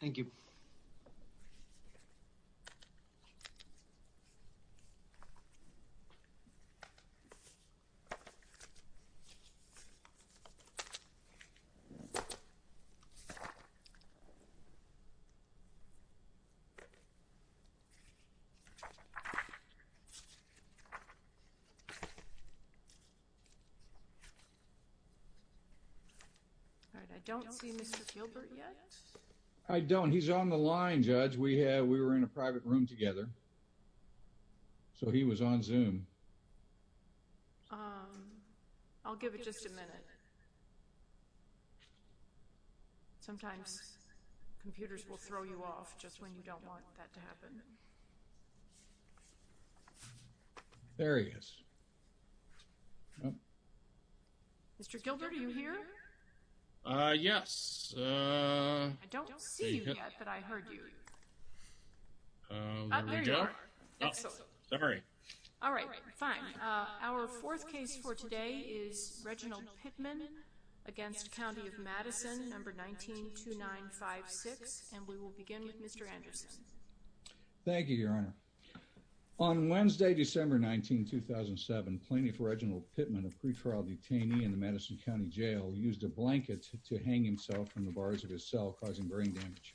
Thank you. All right, I don't see Mr. Gilbert yet. I don't. He's on the line, Judge. We were in a private room together. So he was on Zoom. I'll give it just a minute. Sometimes computers will throw you off just when you don't want that to happen. There he is. Mr. Gilbert, are you here? Uh, yes. I don't see you yet, but I heard you. There we go. All right, fine. Our fourth case for today is Reginald Pittman against County of Madison, number 192956, and we will begin with Mr. Anderson. Thank you, Your Honor. On Wednesday, December 19, 2007, plaintiff Reginald Pittman, a pretrial detainee in the Madison County Jail, used a blanket to hang himself from the bars of his cell, causing brain damage.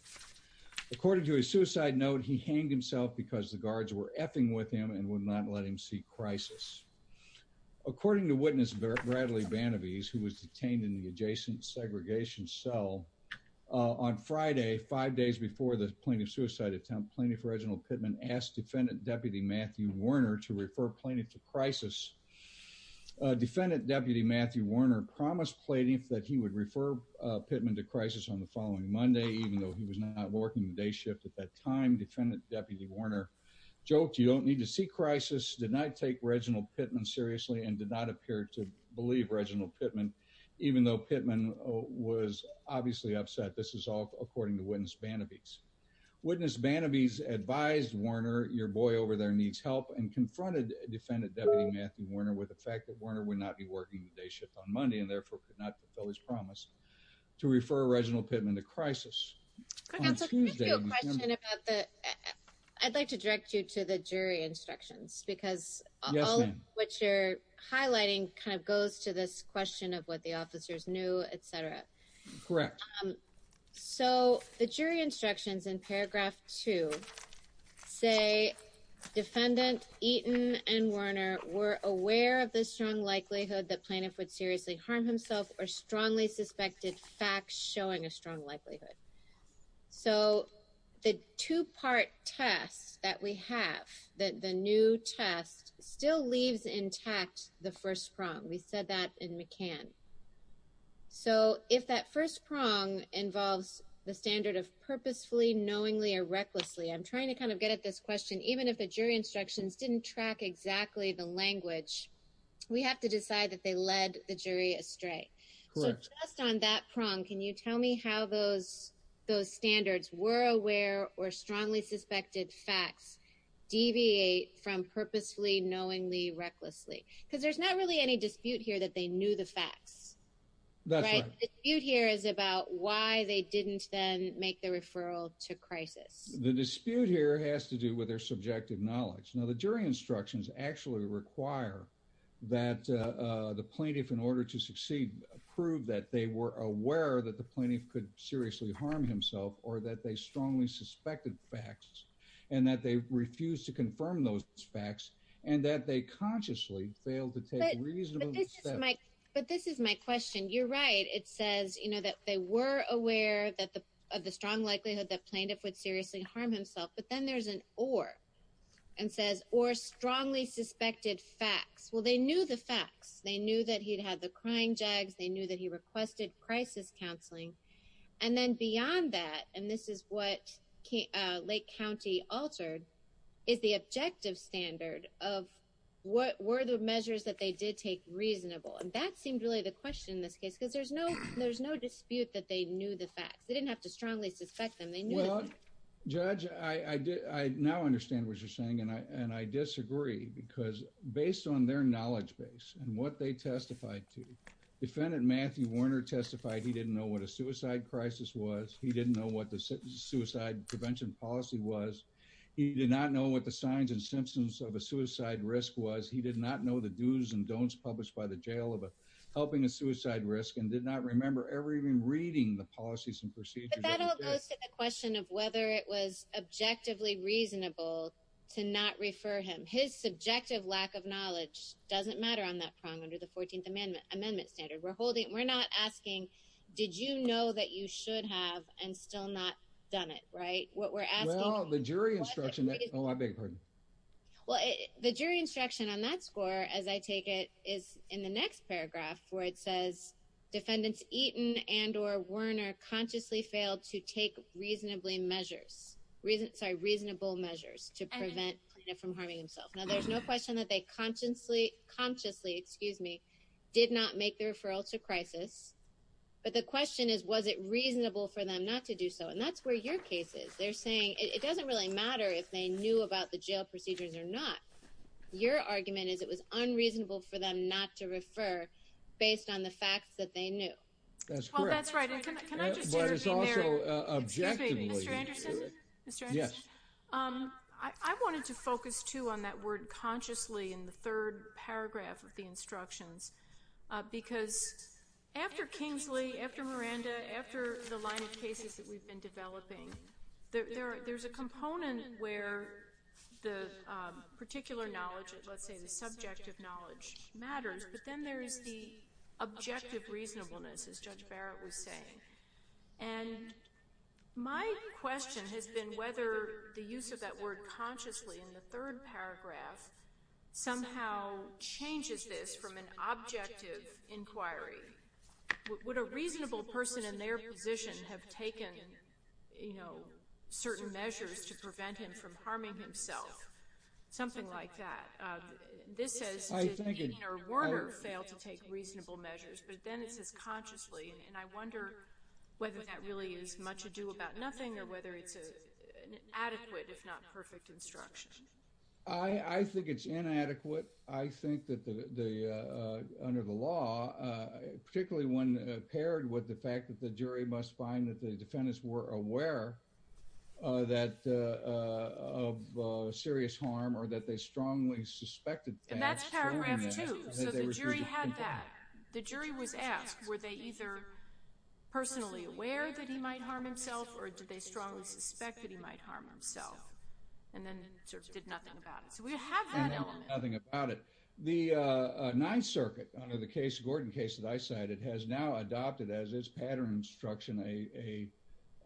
According to his suicide note, he hanged himself because the guards were effing with him and would not let him seek crisis. According to witness Bradley Banabese, who was detained in the adjacent segregation cell, on Friday, five days before the plaintiff's suicide attempt, plaintiff Reginald Pittman asked defendant Deputy Matthew Warner to refer plaintiff to crisis. Defendant Deputy Matthew Warner promised plaintiff that he would refer Pittman to crisis on the following Monday, even though he was not working the day shift at that time. Defendant Deputy Warner joked, you don't need to seek crisis, did not take Reginald Pittman seriously, and did not appear to believe Reginald Pittman, even though Pittman was obviously upset. This is all according to witness Banabese. Witness Banabese advised Warner, your boy over there needs help, and confronted defendant Deputy Matthew Warner with the fact that Warner would not be working the day shift on Monday and therefore could not fulfill his promise to refer Reginald Pittman to crisis. I'd like to direct you to the jury instructions because what you're highlighting goes to this question of what the officers knew, etc. Correct. So the jury instructions in paragraph two say defendant Eaton and Warner were aware of the strong likelihood that plaintiff would seriously harm himself or strongly suspected facts showing a strong likelihood. So the two-part test that we have, the new test, still leaves intact the first prong. We said that in McCann. So if that first prong involves the standard of purposefully, knowingly, or recklessly, I'm trying to kind of get at this question, even if the jury instructions didn't track exactly the language, we have to decide that they led the jury astray. So just on that prong, can you tell me how those standards were aware or strongly suspected facts deviate from purposely, knowingly, recklessly? Because there's not really any dispute here that they knew the facts. That's right. The dispute here is about why they didn't then make the referral to crisis. The dispute here has to do with their subjective knowledge. Now the jury instructions actually require that the plaintiff, in order to succeed, prove that they were aware that the plaintiff could seriously harm himself or that they strongly suspected facts and that they refused to confirm those facts and that they consciously failed to take reasonable steps. But this is my question. You're right. It says, you know, that they were aware of the strong likelihood that plaintiff would seriously harm himself. But then there's an or, and says, or strongly suspected facts. Well, they knew the facts. They knew that he'd had the crying jags. They knew that he requested crisis counseling. And then beyond that, and this is what Lake County altered, is the objective standard of what were the measures that they did take reasonable. And that seemed really the question in this case, because there's no dispute that they knew the facts. They didn't have to judge. I, I did. I now understand what you're saying. And I, and I disagree because based on their knowledge base and what they testified to defendant, Matthew Warner testified, he didn't know what a suicide crisis was. He didn't know what the suicide prevention policy was. He did not know what the signs and symptoms of a suicide risk was. He did not know the do's and don'ts published by the jail of helping a suicide risk and did not remember ever even reading the policies and procedures question of whether it was objectively reasonable to not refer him. His subjective lack of knowledge doesn't matter on that prong under the 14th amendment amendment standard we're holding. We're not asking, did you know that you should have and still not done it? Right. What we're asking the jury instruction. Oh, I beg your pardon. Well, the jury instruction on that score, as I take it is in the next paragraph where it says defendants eaten and, Werner consciously failed to take reasonably measures, reason, sorry, reasonable measures to prevent from harming himself. Now there's no question that they consciously consciously, excuse me, did not make the referral to crisis. But the question is, was it reasonable for them not to do so? And that's where your case is. They're saying it doesn't really matter if they knew about the jail procedures or not. Your argument is it was unreasonable for them not to refer based on the facts that they knew. That's correct. Well, that's right. And can I, can I just intervene there? Objectively. Mr. Anderson? Yes. I wanted to focus too on that word consciously in the third paragraph of the instructions because after Kingsley, after Miranda, after the line of cases that we've been developing, there, there, there's a component where the particular knowledge, let's say the subjective knowledge matters, but then there's the objective reasonableness as Judge Barrett was saying. And my question has been whether the use of that word consciously in the third paragraph somehow changes this from an objective inquiry. Would a reasonable person in their position have taken, you know, certain measures to prevent him from harming himself? Something like that. This says that he or Werner failed to take reasonable measures, but then it says consciously. And I wonder whether that really is much ado about nothing or whether it's an adequate, if not perfect, instruction. I, I think it's inadequate. I think that the, the, under the law, particularly when paired with the jury, must find that the defendants were aware that of serious harm or that they strongly suspected. And that's paragraph two. So the jury had that. The jury was asked, were they either personally aware that he might harm himself or did they strongly suspect that he might harm himself? And then sort of did nothing about it. So we have that element. Nothing about it. The Ninth Circuit, under the case, Gordon case that I cited, has now adopted as its pattern instruction, a,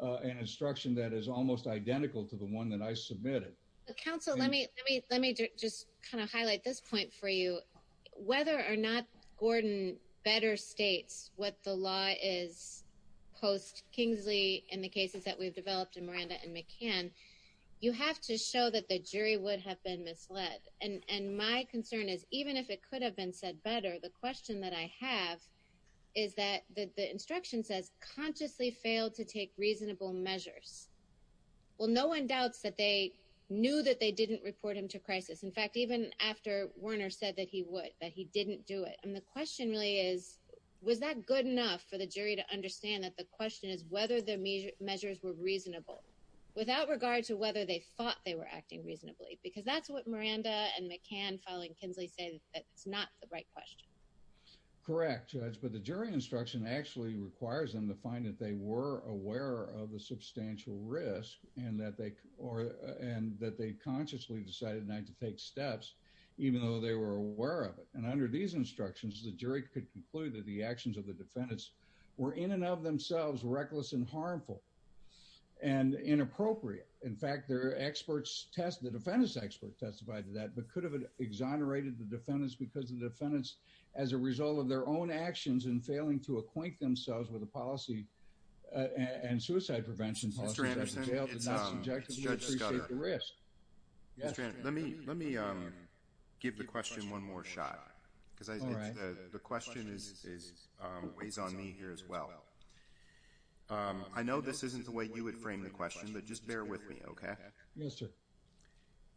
a, an instruction that is almost identical to the one that I submitted. Counsel, let me, let me, let me just kind of highlight this point for you. Whether or not Gordon better states what the law is post Kingsley in the cases that we've developed in Miranda and McCann, you have to show that the jury would have been misled. And my concern is even if it could have been said better, the question that I have is that the, the instruction says consciously failed to take reasonable measures. Well, no one doubts that they knew that they didn't report him to crisis. In fact, even after Werner said that he would, that he didn't do it. And the question really is, was that good enough for the jury to understand that the question is whether the measure measures were reasonable without regard to whether they thought they were acting reasonably? Because that's what Miranda and McCann filing Kingsley say that it's not the right question. Correct judge. But the jury instruction actually requires them to find that they were aware of the substantial risk and that they, or, uh, and that they consciously decided not to take steps, even though they were aware of it. And under these instructions, the jury could conclude that the actions of the defendants were in and of themselves reckless and harmful and inappropriate. In fact, their experts test, the defendants expert testified to that, but could have exonerated the defendants because the defendants as a result of their own actions and failing to acquaint themselves with the policy and suicide prevention. Mr. Anderson, it's Judge Scudder. Let me, let me, um, give the question one more shot because the question is, is, um, weighs on me here as well. Um, I know this isn't the way you would frame the question, but just bear with me. Okay. Yes, sir.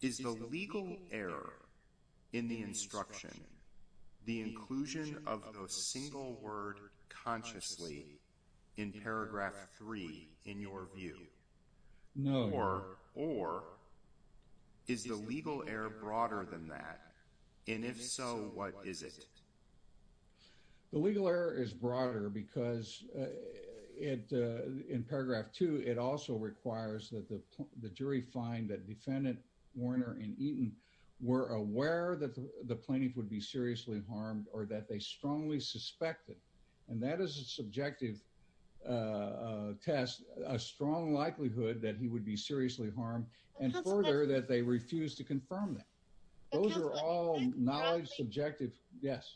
Is the legal error in the instruction, the inclusion of a single word consciously in paragraph three, in your view, or is the legal error broader than that? And if so, what is it? The legal error is broader because, uh, it, uh, in paragraph two, it also requires that the, the jury find that defendant Warner and Eaton were aware that the plaintiff would be seriously harmed or that they strongly suspected. And that is a subjective, uh, uh, test, a strong likelihood that he would be seriously harmed and further that they refuse to confirm that. Those are all knowledge, subjective. Yes.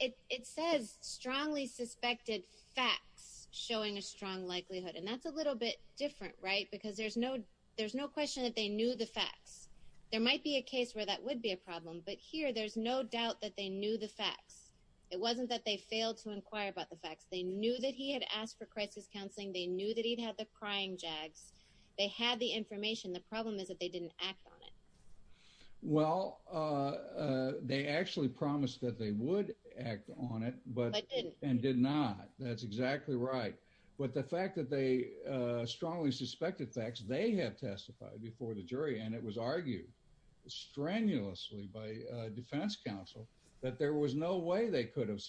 It says strongly suspected facts showing a strong likelihood. And that's a little bit different, right? Because there's no, there's no question that they knew the facts. There might be a case where that would be a problem, but here, there's no doubt that they knew the facts. It wasn't that they failed to inquire about the facts. They knew that he had asked for crisis counseling. They knew that he'd had the crying Jags. They had the information. The problem is that they didn't act on it. Well, uh, uh, they actually promised that they would act on it, but didn't and did not. That's exactly right. But the fact that they, uh, strongly suspected facts, they have testified before the jury. And it was argued strenuously by a defense counsel that there was no way they could have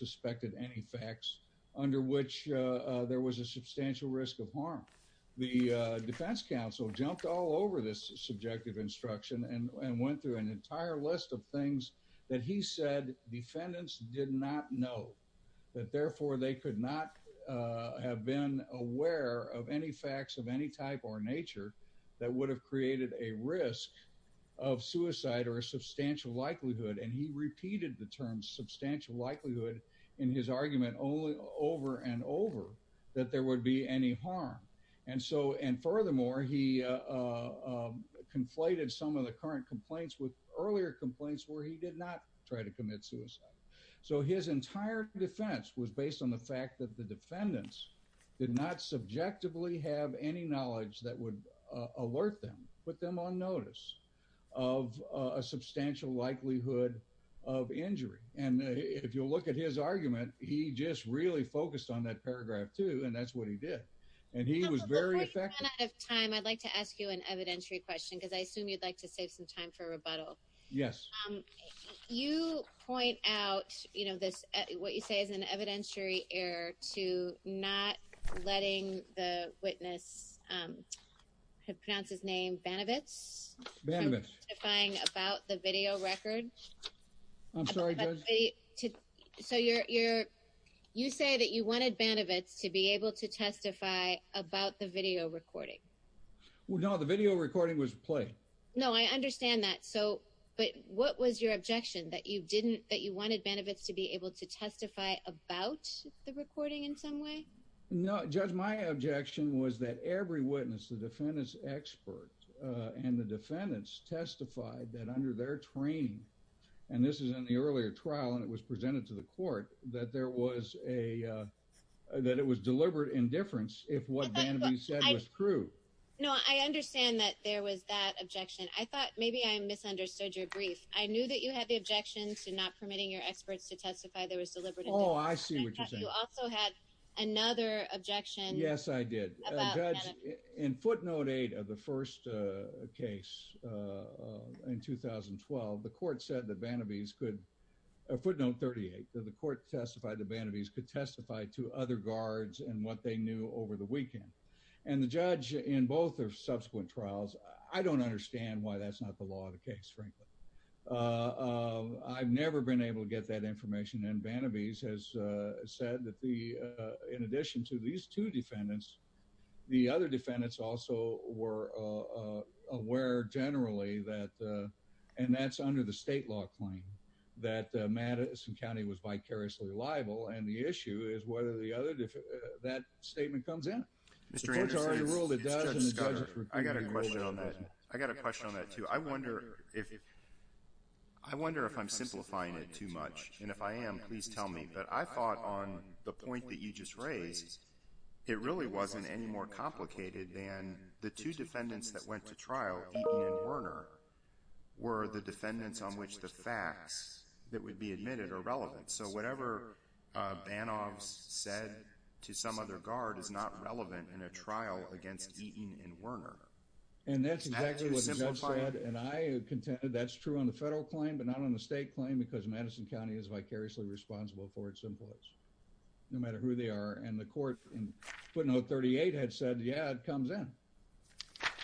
all over this subjective instruction and went through an entire list of things that he said, defendants did not know that therefore they could not, uh, have been aware of any facts of any type or nature that would have created a risk of suicide or a substantial likelihood. And he repeated the term substantial likelihood in his argument only over and over that there would be any harm. And so, and furthermore, he, uh, conflated some of the current complaints with earlier complaints where he did not try to commit suicide. So his entire defense was based on the fact that the defendants did not subjectively have any knowledge that would alert them, put them on notice of a substantial likelihood of injury. And if you'll look at his argument, he just really focused on that paragraph too. And that's what he did. And he was very effective. Out of time. I'd like to ask you an evidentiary question. Cause I assume you'd like to save some time for rebuttal. Yes. Um, you point out, you know, this, what you say is an evidentiary error to not letting the witness, um, have pronounced his name benefits about the video record. I'm sorry. So you're, you're, you say that you wanted benefits to be able to testify about the video recording. Well, no, the video recording was played. No, I understand that. So, but what was your objection that you didn't, that you wanted benefits to be able to testify about the recording in some way? No judge. My objection was that every witness, the defendant's expert, uh, and the defendants testified that under their train, and this is in the earlier trial and it was presented to the court that there was a, uh, that it was deliberate indifference. If what Bannaby said was true. No, I understand that there was that objection. I thought maybe I misunderstood your brief. I knew that you had the objections to not permitting your experts to testify. There was deliberate. Oh, I see what you're saying. You also had another objection. Yes, I did. In footnote eight of the first, uh, case, uh, in 2012, the court said that Bannaby's could a footnote 38 that the court testified to Bannaby's could testify to other guards and what they knew over the weekend. And the judge in both their subsequent trials, I don't understand why that's not the law of the case. Frankly, uh, uh, I've never been able to get that information. And Bannaby's has, uh, said that the, uh, in addition to these two defendants, the other defendants also were, uh, aware generally that, uh, and that's under the state law claim that Madison County was vicariously liable. And the issue is whether the other, that statement comes in. I got a question on that. I got a question on that too. I wonder if, I wonder if I'm simplifying it too much. And if I am, please tell me, but I thought on the point that you just raised, it really wasn't any more complicated than the two defendants that went to trial, Eaton and Werner, were the defendants on which the facts that would be admitted are relevant. So whatever, uh, Banoff's said to some other guard is not relevant in a contended. That's true on the federal claim, but not on the state claim because Madison County is vicariously responsible for its influence no matter who they are. And the court in footnote 38 had said, yeah, it comes in.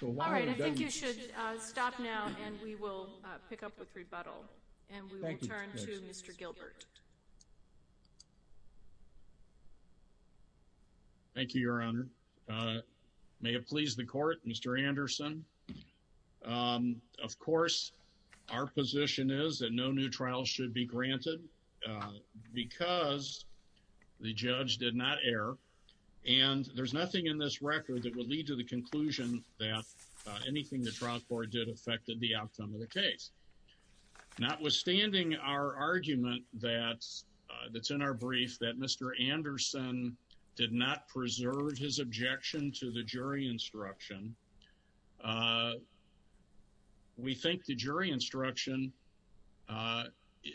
All right. I think you should stop now and we will pick up with rebuttal and we will turn to Mr. Gilbert. Thank you, Your Honor. May it please the court, Mr. Anderson. Of course, our position is that no new trials should be granted because the judge did not err. And there's nothing in this record that would lead to the conclusion that anything the trial court did affected the outcome of the case. Notwithstanding our argument that's, uh, that's in our brief that Mr. Anderson did not preserve his objection to the jury instruction, uh, we think the jury instruction, uh,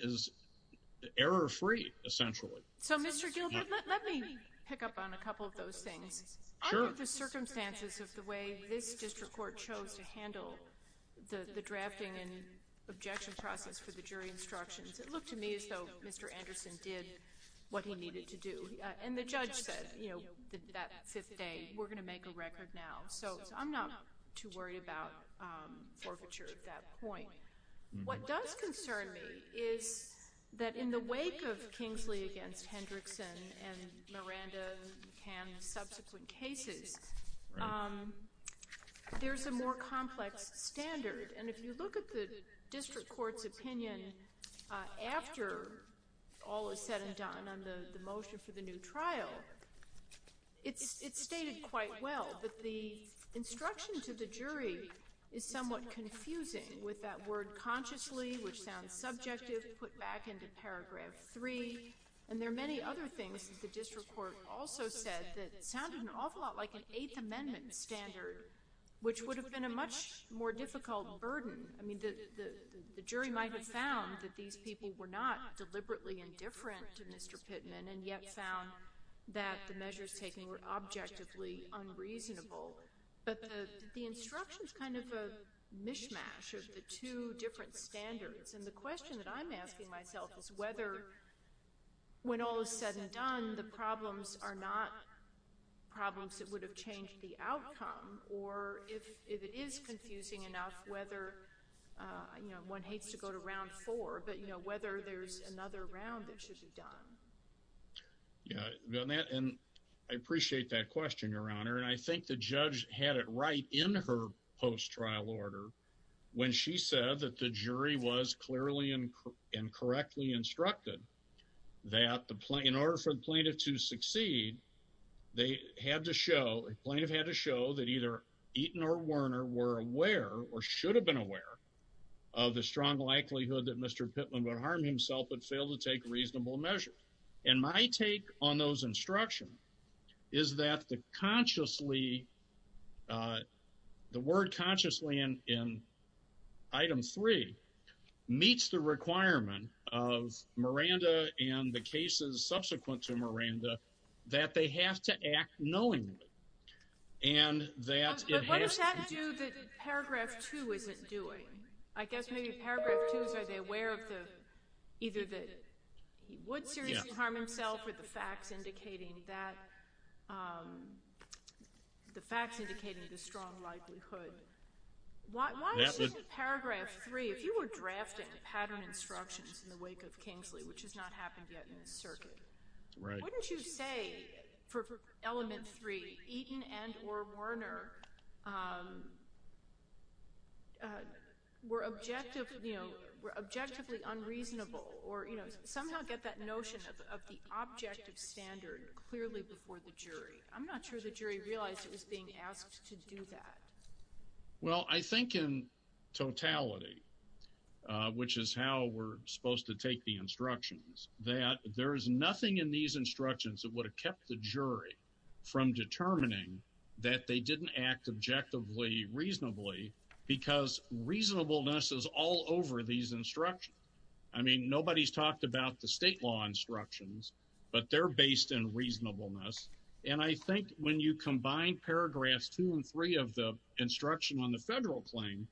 is error free, essentially. So, Mr. Gilbert, let me pick up on a couple of those things. Under the circumstances of the way this district court chose to handle the, the drafting and objection process for the jury instructions, it looked to me as though Mr. Anderson did what he needed to do. Uh, and the judge said, you know, that fifth day, we're going to make a record now. So, I'm not too worried about, um, forfeiture at that point. What does concern me is that in the wake of Kingsley against Hendrickson and Miranda and McCann and subsequent cases, um, there's a more complex standard. And if you look at the district court's opinion, uh, after all is said and done on the, the motion for the new trial, it's, it's stated quite well, but the instruction to the jury is somewhat confusing with that word consciously, which sounds subjective, put back into paragraph three. And there are many other things that the district court also said that sounded an awful lot like an Eighth Amendment standard, which would have been a much more difficult burden. I mean, the, the, the jury might have found that these people were not deliberately indifferent to Mr. Pittman and yet found that the measures taken were objectively unreasonable. But the, the instruction is kind of a mishmash of the two different standards. And the question that I'm asking myself is whether when all is said and done, the problems are not problems that would have changed the outcome or if, if it is confusing enough, whether, uh, you know, one hates to go to round four, but you know, whether there's another round that should be done. Yeah. And I appreciate that question, Your Honor. And I think the judge had it right in her post-trial order when she said that the jury was clearly and correctly instructed that the plaintiff, in order for the plaintiff to succeed, they had to show, the plaintiff had to show that either Eaton or Werner were aware or should have been aware of the strong likelihood that Mr. Pittman would harm himself and fail to take reasonable measure. And my take on those instructions is that the consciously, uh, the word consciously in, in item three meets the requirement of Miranda and the cases subsequent to Miranda that they have to act knowingly. And that it has to do... But what does that do that paragraph two isn't doing? I guess maybe paragraph two is are they aware of the, either that he would seriously harm himself or the facts indicating that, um, the facts indicating the strong likelihood. Why, why isn't paragraph three, if you were drafting pattern instructions in the wake of Kingsley, which has not happened yet in this circuit, wouldn't you say for, for element three, Eaton and or Werner, um, uh, were objective, you know, were objectively unreasonable or, you know, somehow get that notion of the objective standard clearly before the jury? I'm not sure the jury realized it was being asked to do that. Well, I think in totality, uh, which is how we're supposed to take the instructions, that there is nothing in these instructions that would have kept the jury from determining that they didn't act objectively reasonably because reasonableness is all over these instructions. I mean, nobody's talked about the state law instructions, but they're based in reasonableness. And I think when you combine paragraphs two and three of the instruction on the federal claim,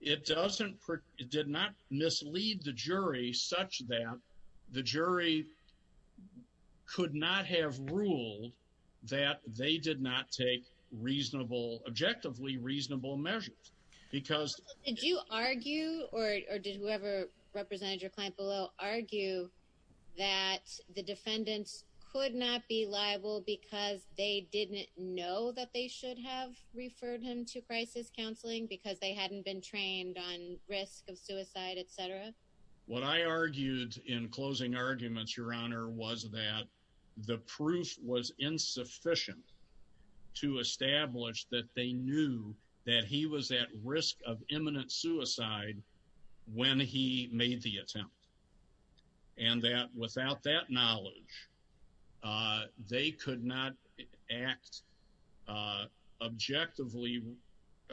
it doesn't, it did not mislead the jury such that the jury could not have ruled that they did not take reasonable, objectively reasonable measures because did you argue or did whoever represented your client below argue that the defendants could not be liable because they didn't know that they should have referred him to crisis counseling because they hadn't been trained on risk of suicide, et cetera. What I argued in closing arguments, your honor, was that the proof was insufficient to establish that they knew that he was at risk of imminent suicide when he made the attempt and that without that knowledge, they could not act, uh, objectively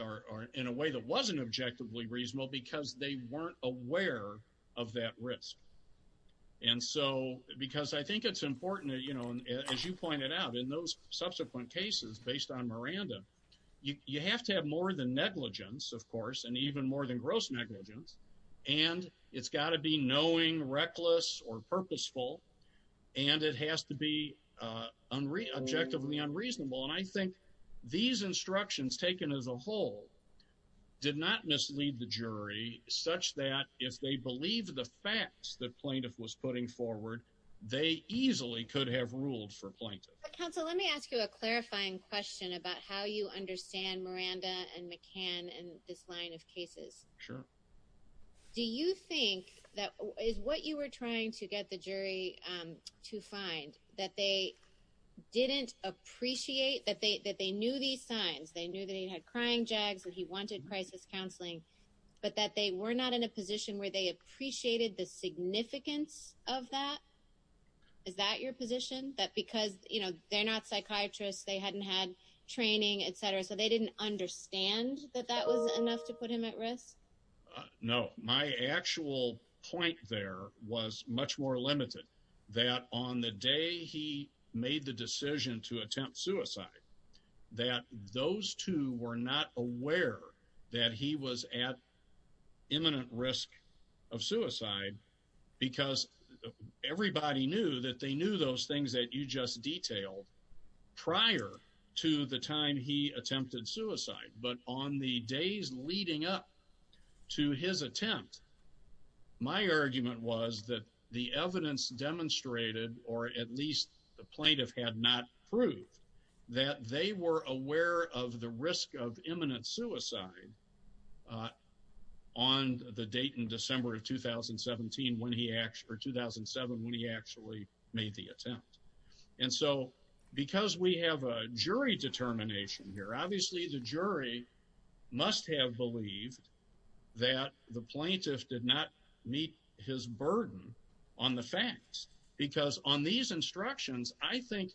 or in a way that wasn't objectively reasonable because they weren't aware of that risk. And so, because I think it's important, you know, as you pointed out in those subsequent cases, based on Miranda, you, you have to have more than negligence, of course, and even more than gross negligence. And it's got to be knowing reckless or purposeful, and it has to be, uh, objectively unreasonable. And I think these instructions taken as a whole did not mislead the jury such that if they believe the facts that plaintiff was putting forward, they easily could have ruled for plaintiff. Counsel, let me ask you a clarifying question about how you understand Miranda and McCann and this line of cases. Sure. Do you think that is what you were trying to get the jury, um, to find that they didn't appreciate that they, that they knew these signs, they knew that he had crying jags and he wanted crisis counseling, but that they were not in a position where they appreciated the significance of that? Is that your position? That because, you know, they're not psychiatrists, they hadn't had training, et cetera, so they didn't understand that that was enough to put him at risk? No, my actual point there was much more limited that on the day he made the decision to attempt suicide, that those two were not aware that he was at imminent risk of suicide because everybody knew that they knew those things that you just detailed prior to the time he attempted suicide. But on the days leading up to his attempt, my argument was that the evidence demonstrated, or at least the plaintiff had not proved, that they were aware of the risk of imminent suicide on the date in December of 2017 when he actually 2007 when he actually made the attempt. And so because we have a jury determination here, obviously the jury must have believed that the plaintiff did not meet his burden on the facts. Because on these instructions, I think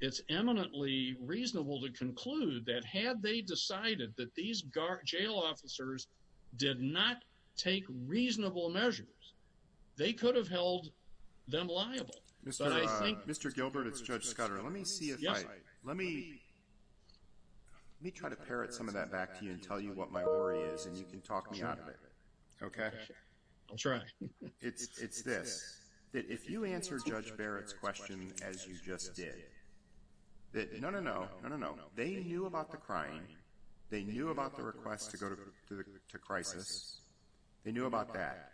it's eminently reasonable to conclude that had they decided that these jail officers did not take reasonable measures, they could have held them liable. Mr. Gilbert, it's Judge Scudder. Let me try to parrot some of that back to you and tell you what my worry is and you can talk me out of it. Okay? I'll try. It's this, that if you answer Judge Barrett's question as you just did, that no, no, no, no, no, no. They knew about the crime. They knew about the request to go to crisis. They knew about that.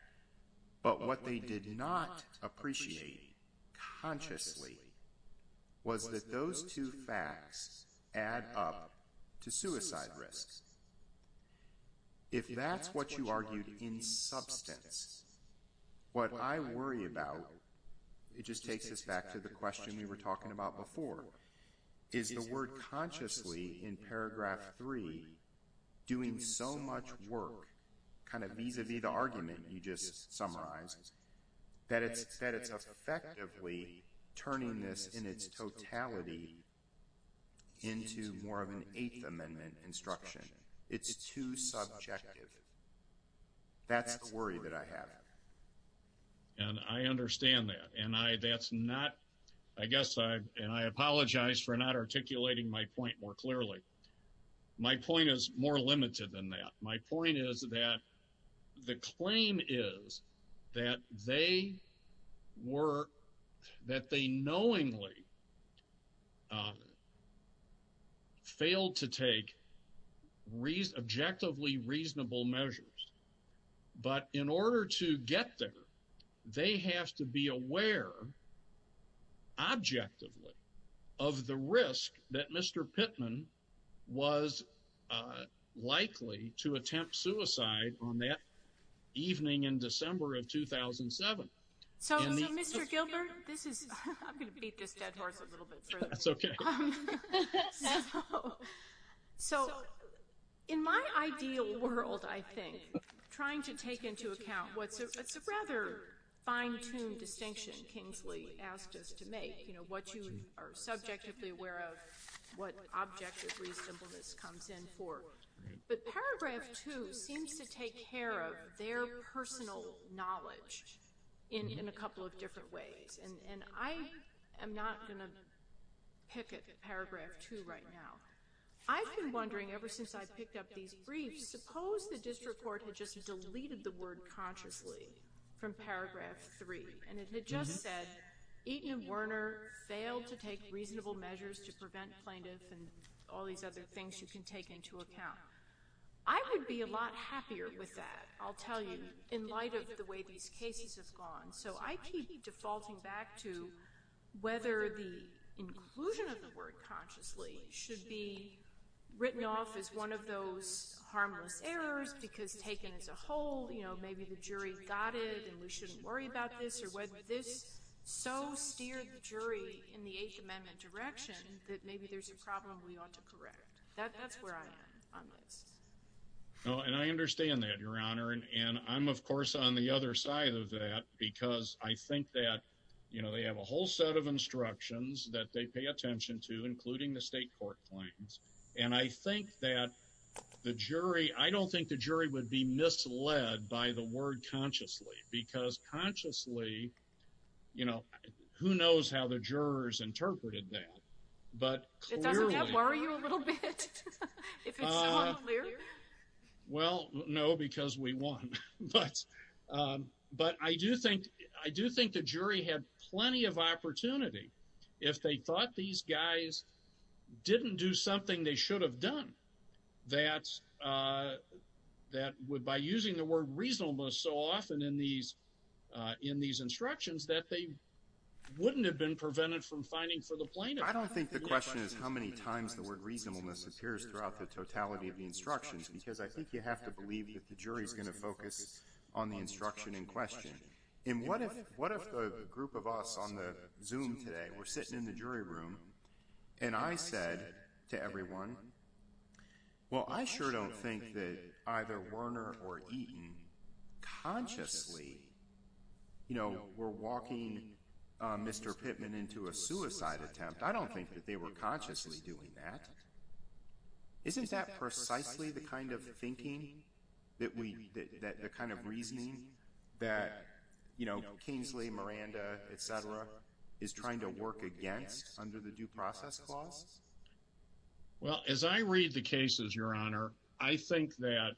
But what they did not appreciate consciously was that those two facts add up to suicide risk. If that's what you argued in substance, what I worry about, it just takes us back to the question we were talking about before, is the word consciously in paragraph three doing so much work kind of vis-a-vis the argument you just summarized, that it's effectively turning this in its totality into more of an eighth amendment instruction. It's too subjective. That's the worry that I have. And I understand that. And that's not, I guess, and I apologize for not articulating my point more clearly. My point is more limited than that. My point is that the claim is that they were, that they knowingly failed to take objectively reasonable measures. But in order to get there, they have to be aware objectively of the risk that Mr. Pittman was likely to attempt suicide on that evening in December of 2007. So, Mr. Gilbert, this is, I'm going to beat this dead horse a little bit. That's okay. So, in my ideal world, I think, trying to take into account what's a rather fine-tuned distinction Kingsley asked us to make, you know, what you are subjectively aware of, what objective reasonableness comes in for. But paragraph two seems to take care of their personal knowledge in a couple of different ways. And I am not going to pick at paragraph two right now. I've been wondering, ever since I picked up these briefs, suppose the district court had just three, and it had just said Eaton and Werner failed to take reasonable measures to prevent plaintiff and all these other things you can take into account. I would be a lot happier with that, I'll tell you, in light of the way these cases have gone. So, I keep defaulting back to whether the inclusion of the word consciously should be written off as one of those harmless errors because taken as a whole, you know, maybe the jury got it and we shouldn't worry about this, or whether this so steered the jury in the Eighth Amendment direction that maybe there's a problem we ought to correct. That's where I am on this. Oh, and I understand that, Your Honor. And I'm, of course, on the other side of that because I think that, you know, they have a whole set of instructions that they pay attention to, including the state court claims. And I think that the jury, I don't think the jury would be misled by the word consciously, because consciously, you know, who knows how the jurors interpreted that. But clearly. Doesn't that worry you a little bit? Well, no, because we won. But I do think the jury had plenty of opportunity if they thought these guys didn't do something they should have done, that would, by using the word reasonableness so often in these instructions, that they wouldn't have been prevented from finding for the plaintiff. I don't think the question is how many times the word reasonableness appears throughout the totality of the instructions, because I think you have to believe that the jury is going to focus on the instruction in question. And what if, what if the group of us on the Zoom today, we're sitting in the jury room, and I said to everyone, well, I sure don't think that either Werner or Eaton consciously, you know, were walking Mr. Pittman into a suicide attempt. I don't think that they were consciously doing that. Isn't that precisely the kind of thinking that we, the kind of reasoning that, you know, Kingsley, Miranda, et cetera, is trying to work against under the due process clause? Well, as I read the cases, Your Honor, I think that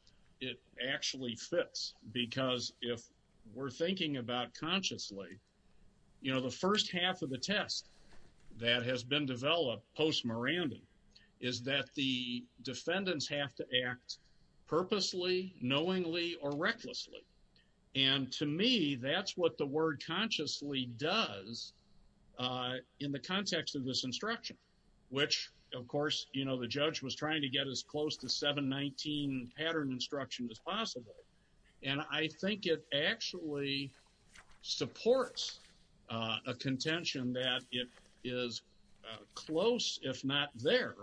it actually fits, because if we're thinking about consciously, you know, the first half of the test that has been developed post-Miranda is that the defendants have to act purposely, knowingly, or recklessly. And to me, that's what the word consciously does in the context of this instruction, which of course, you know, the judge was trying to get as close to 719 pattern instruction as possible. And I think it actually supports a contention that it is close, if not there,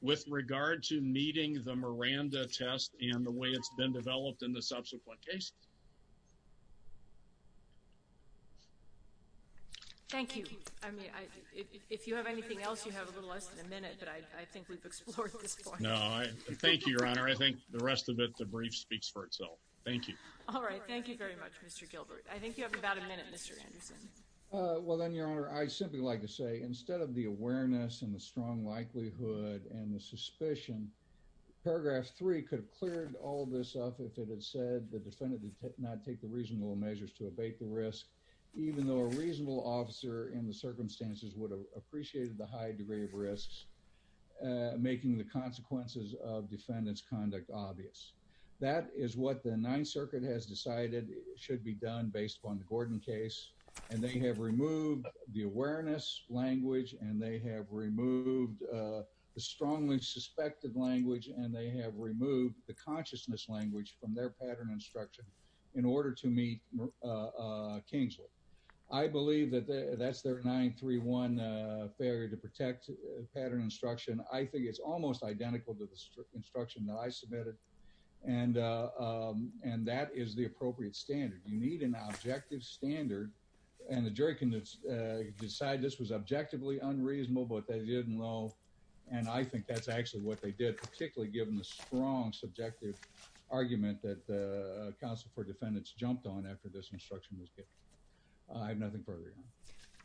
with regard to meeting the Miranda test and the way it's been developed in the subsequent cases. Thank you. I mean, if you have anything else, you have a little less than a minute, but I think we've explored this point. No, thank you, Your Honor. I think the rest of it, the brief speaks for itself. Thank you. All right. Thank you very much, Mr. Gilbert. I think you have about a minute, Mr. Anderson. Well then, Your Honor, I'd simply like to say instead of the awareness and the strong likelihood and the suspicion, paragraph three could have cleared all this up if it had said the defendant did not take the reasonable measures to abate the risk, even though a reasonable officer in the circumstances would have appreciated the high degree of risks, making the consequences of defendant's conduct obvious. That is what the Ninth Circuit has decided should be done based upon the Gordon case, and they have removed the awareness language, and they have removed the strongly suspected language, and they have removed the consciousness language from their pattern instruction in order to meet Kingsley. I believe that that's their 931 failure to protect pattern instruction. I think it's almost identical to the instruction that I submitted, and that is the appropriate standard. You need an objective standard, and the jury can decide this was objectively unreasonable, but they didn't know, and I think that's actually what they did, particularly given the strong subjective argument that the counsel for defendants jumped on after this instruction was given. I have nothing further, Your Honor.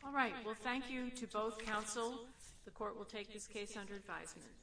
All right. Well, thank you to both counsel. The court will take this case under advisement.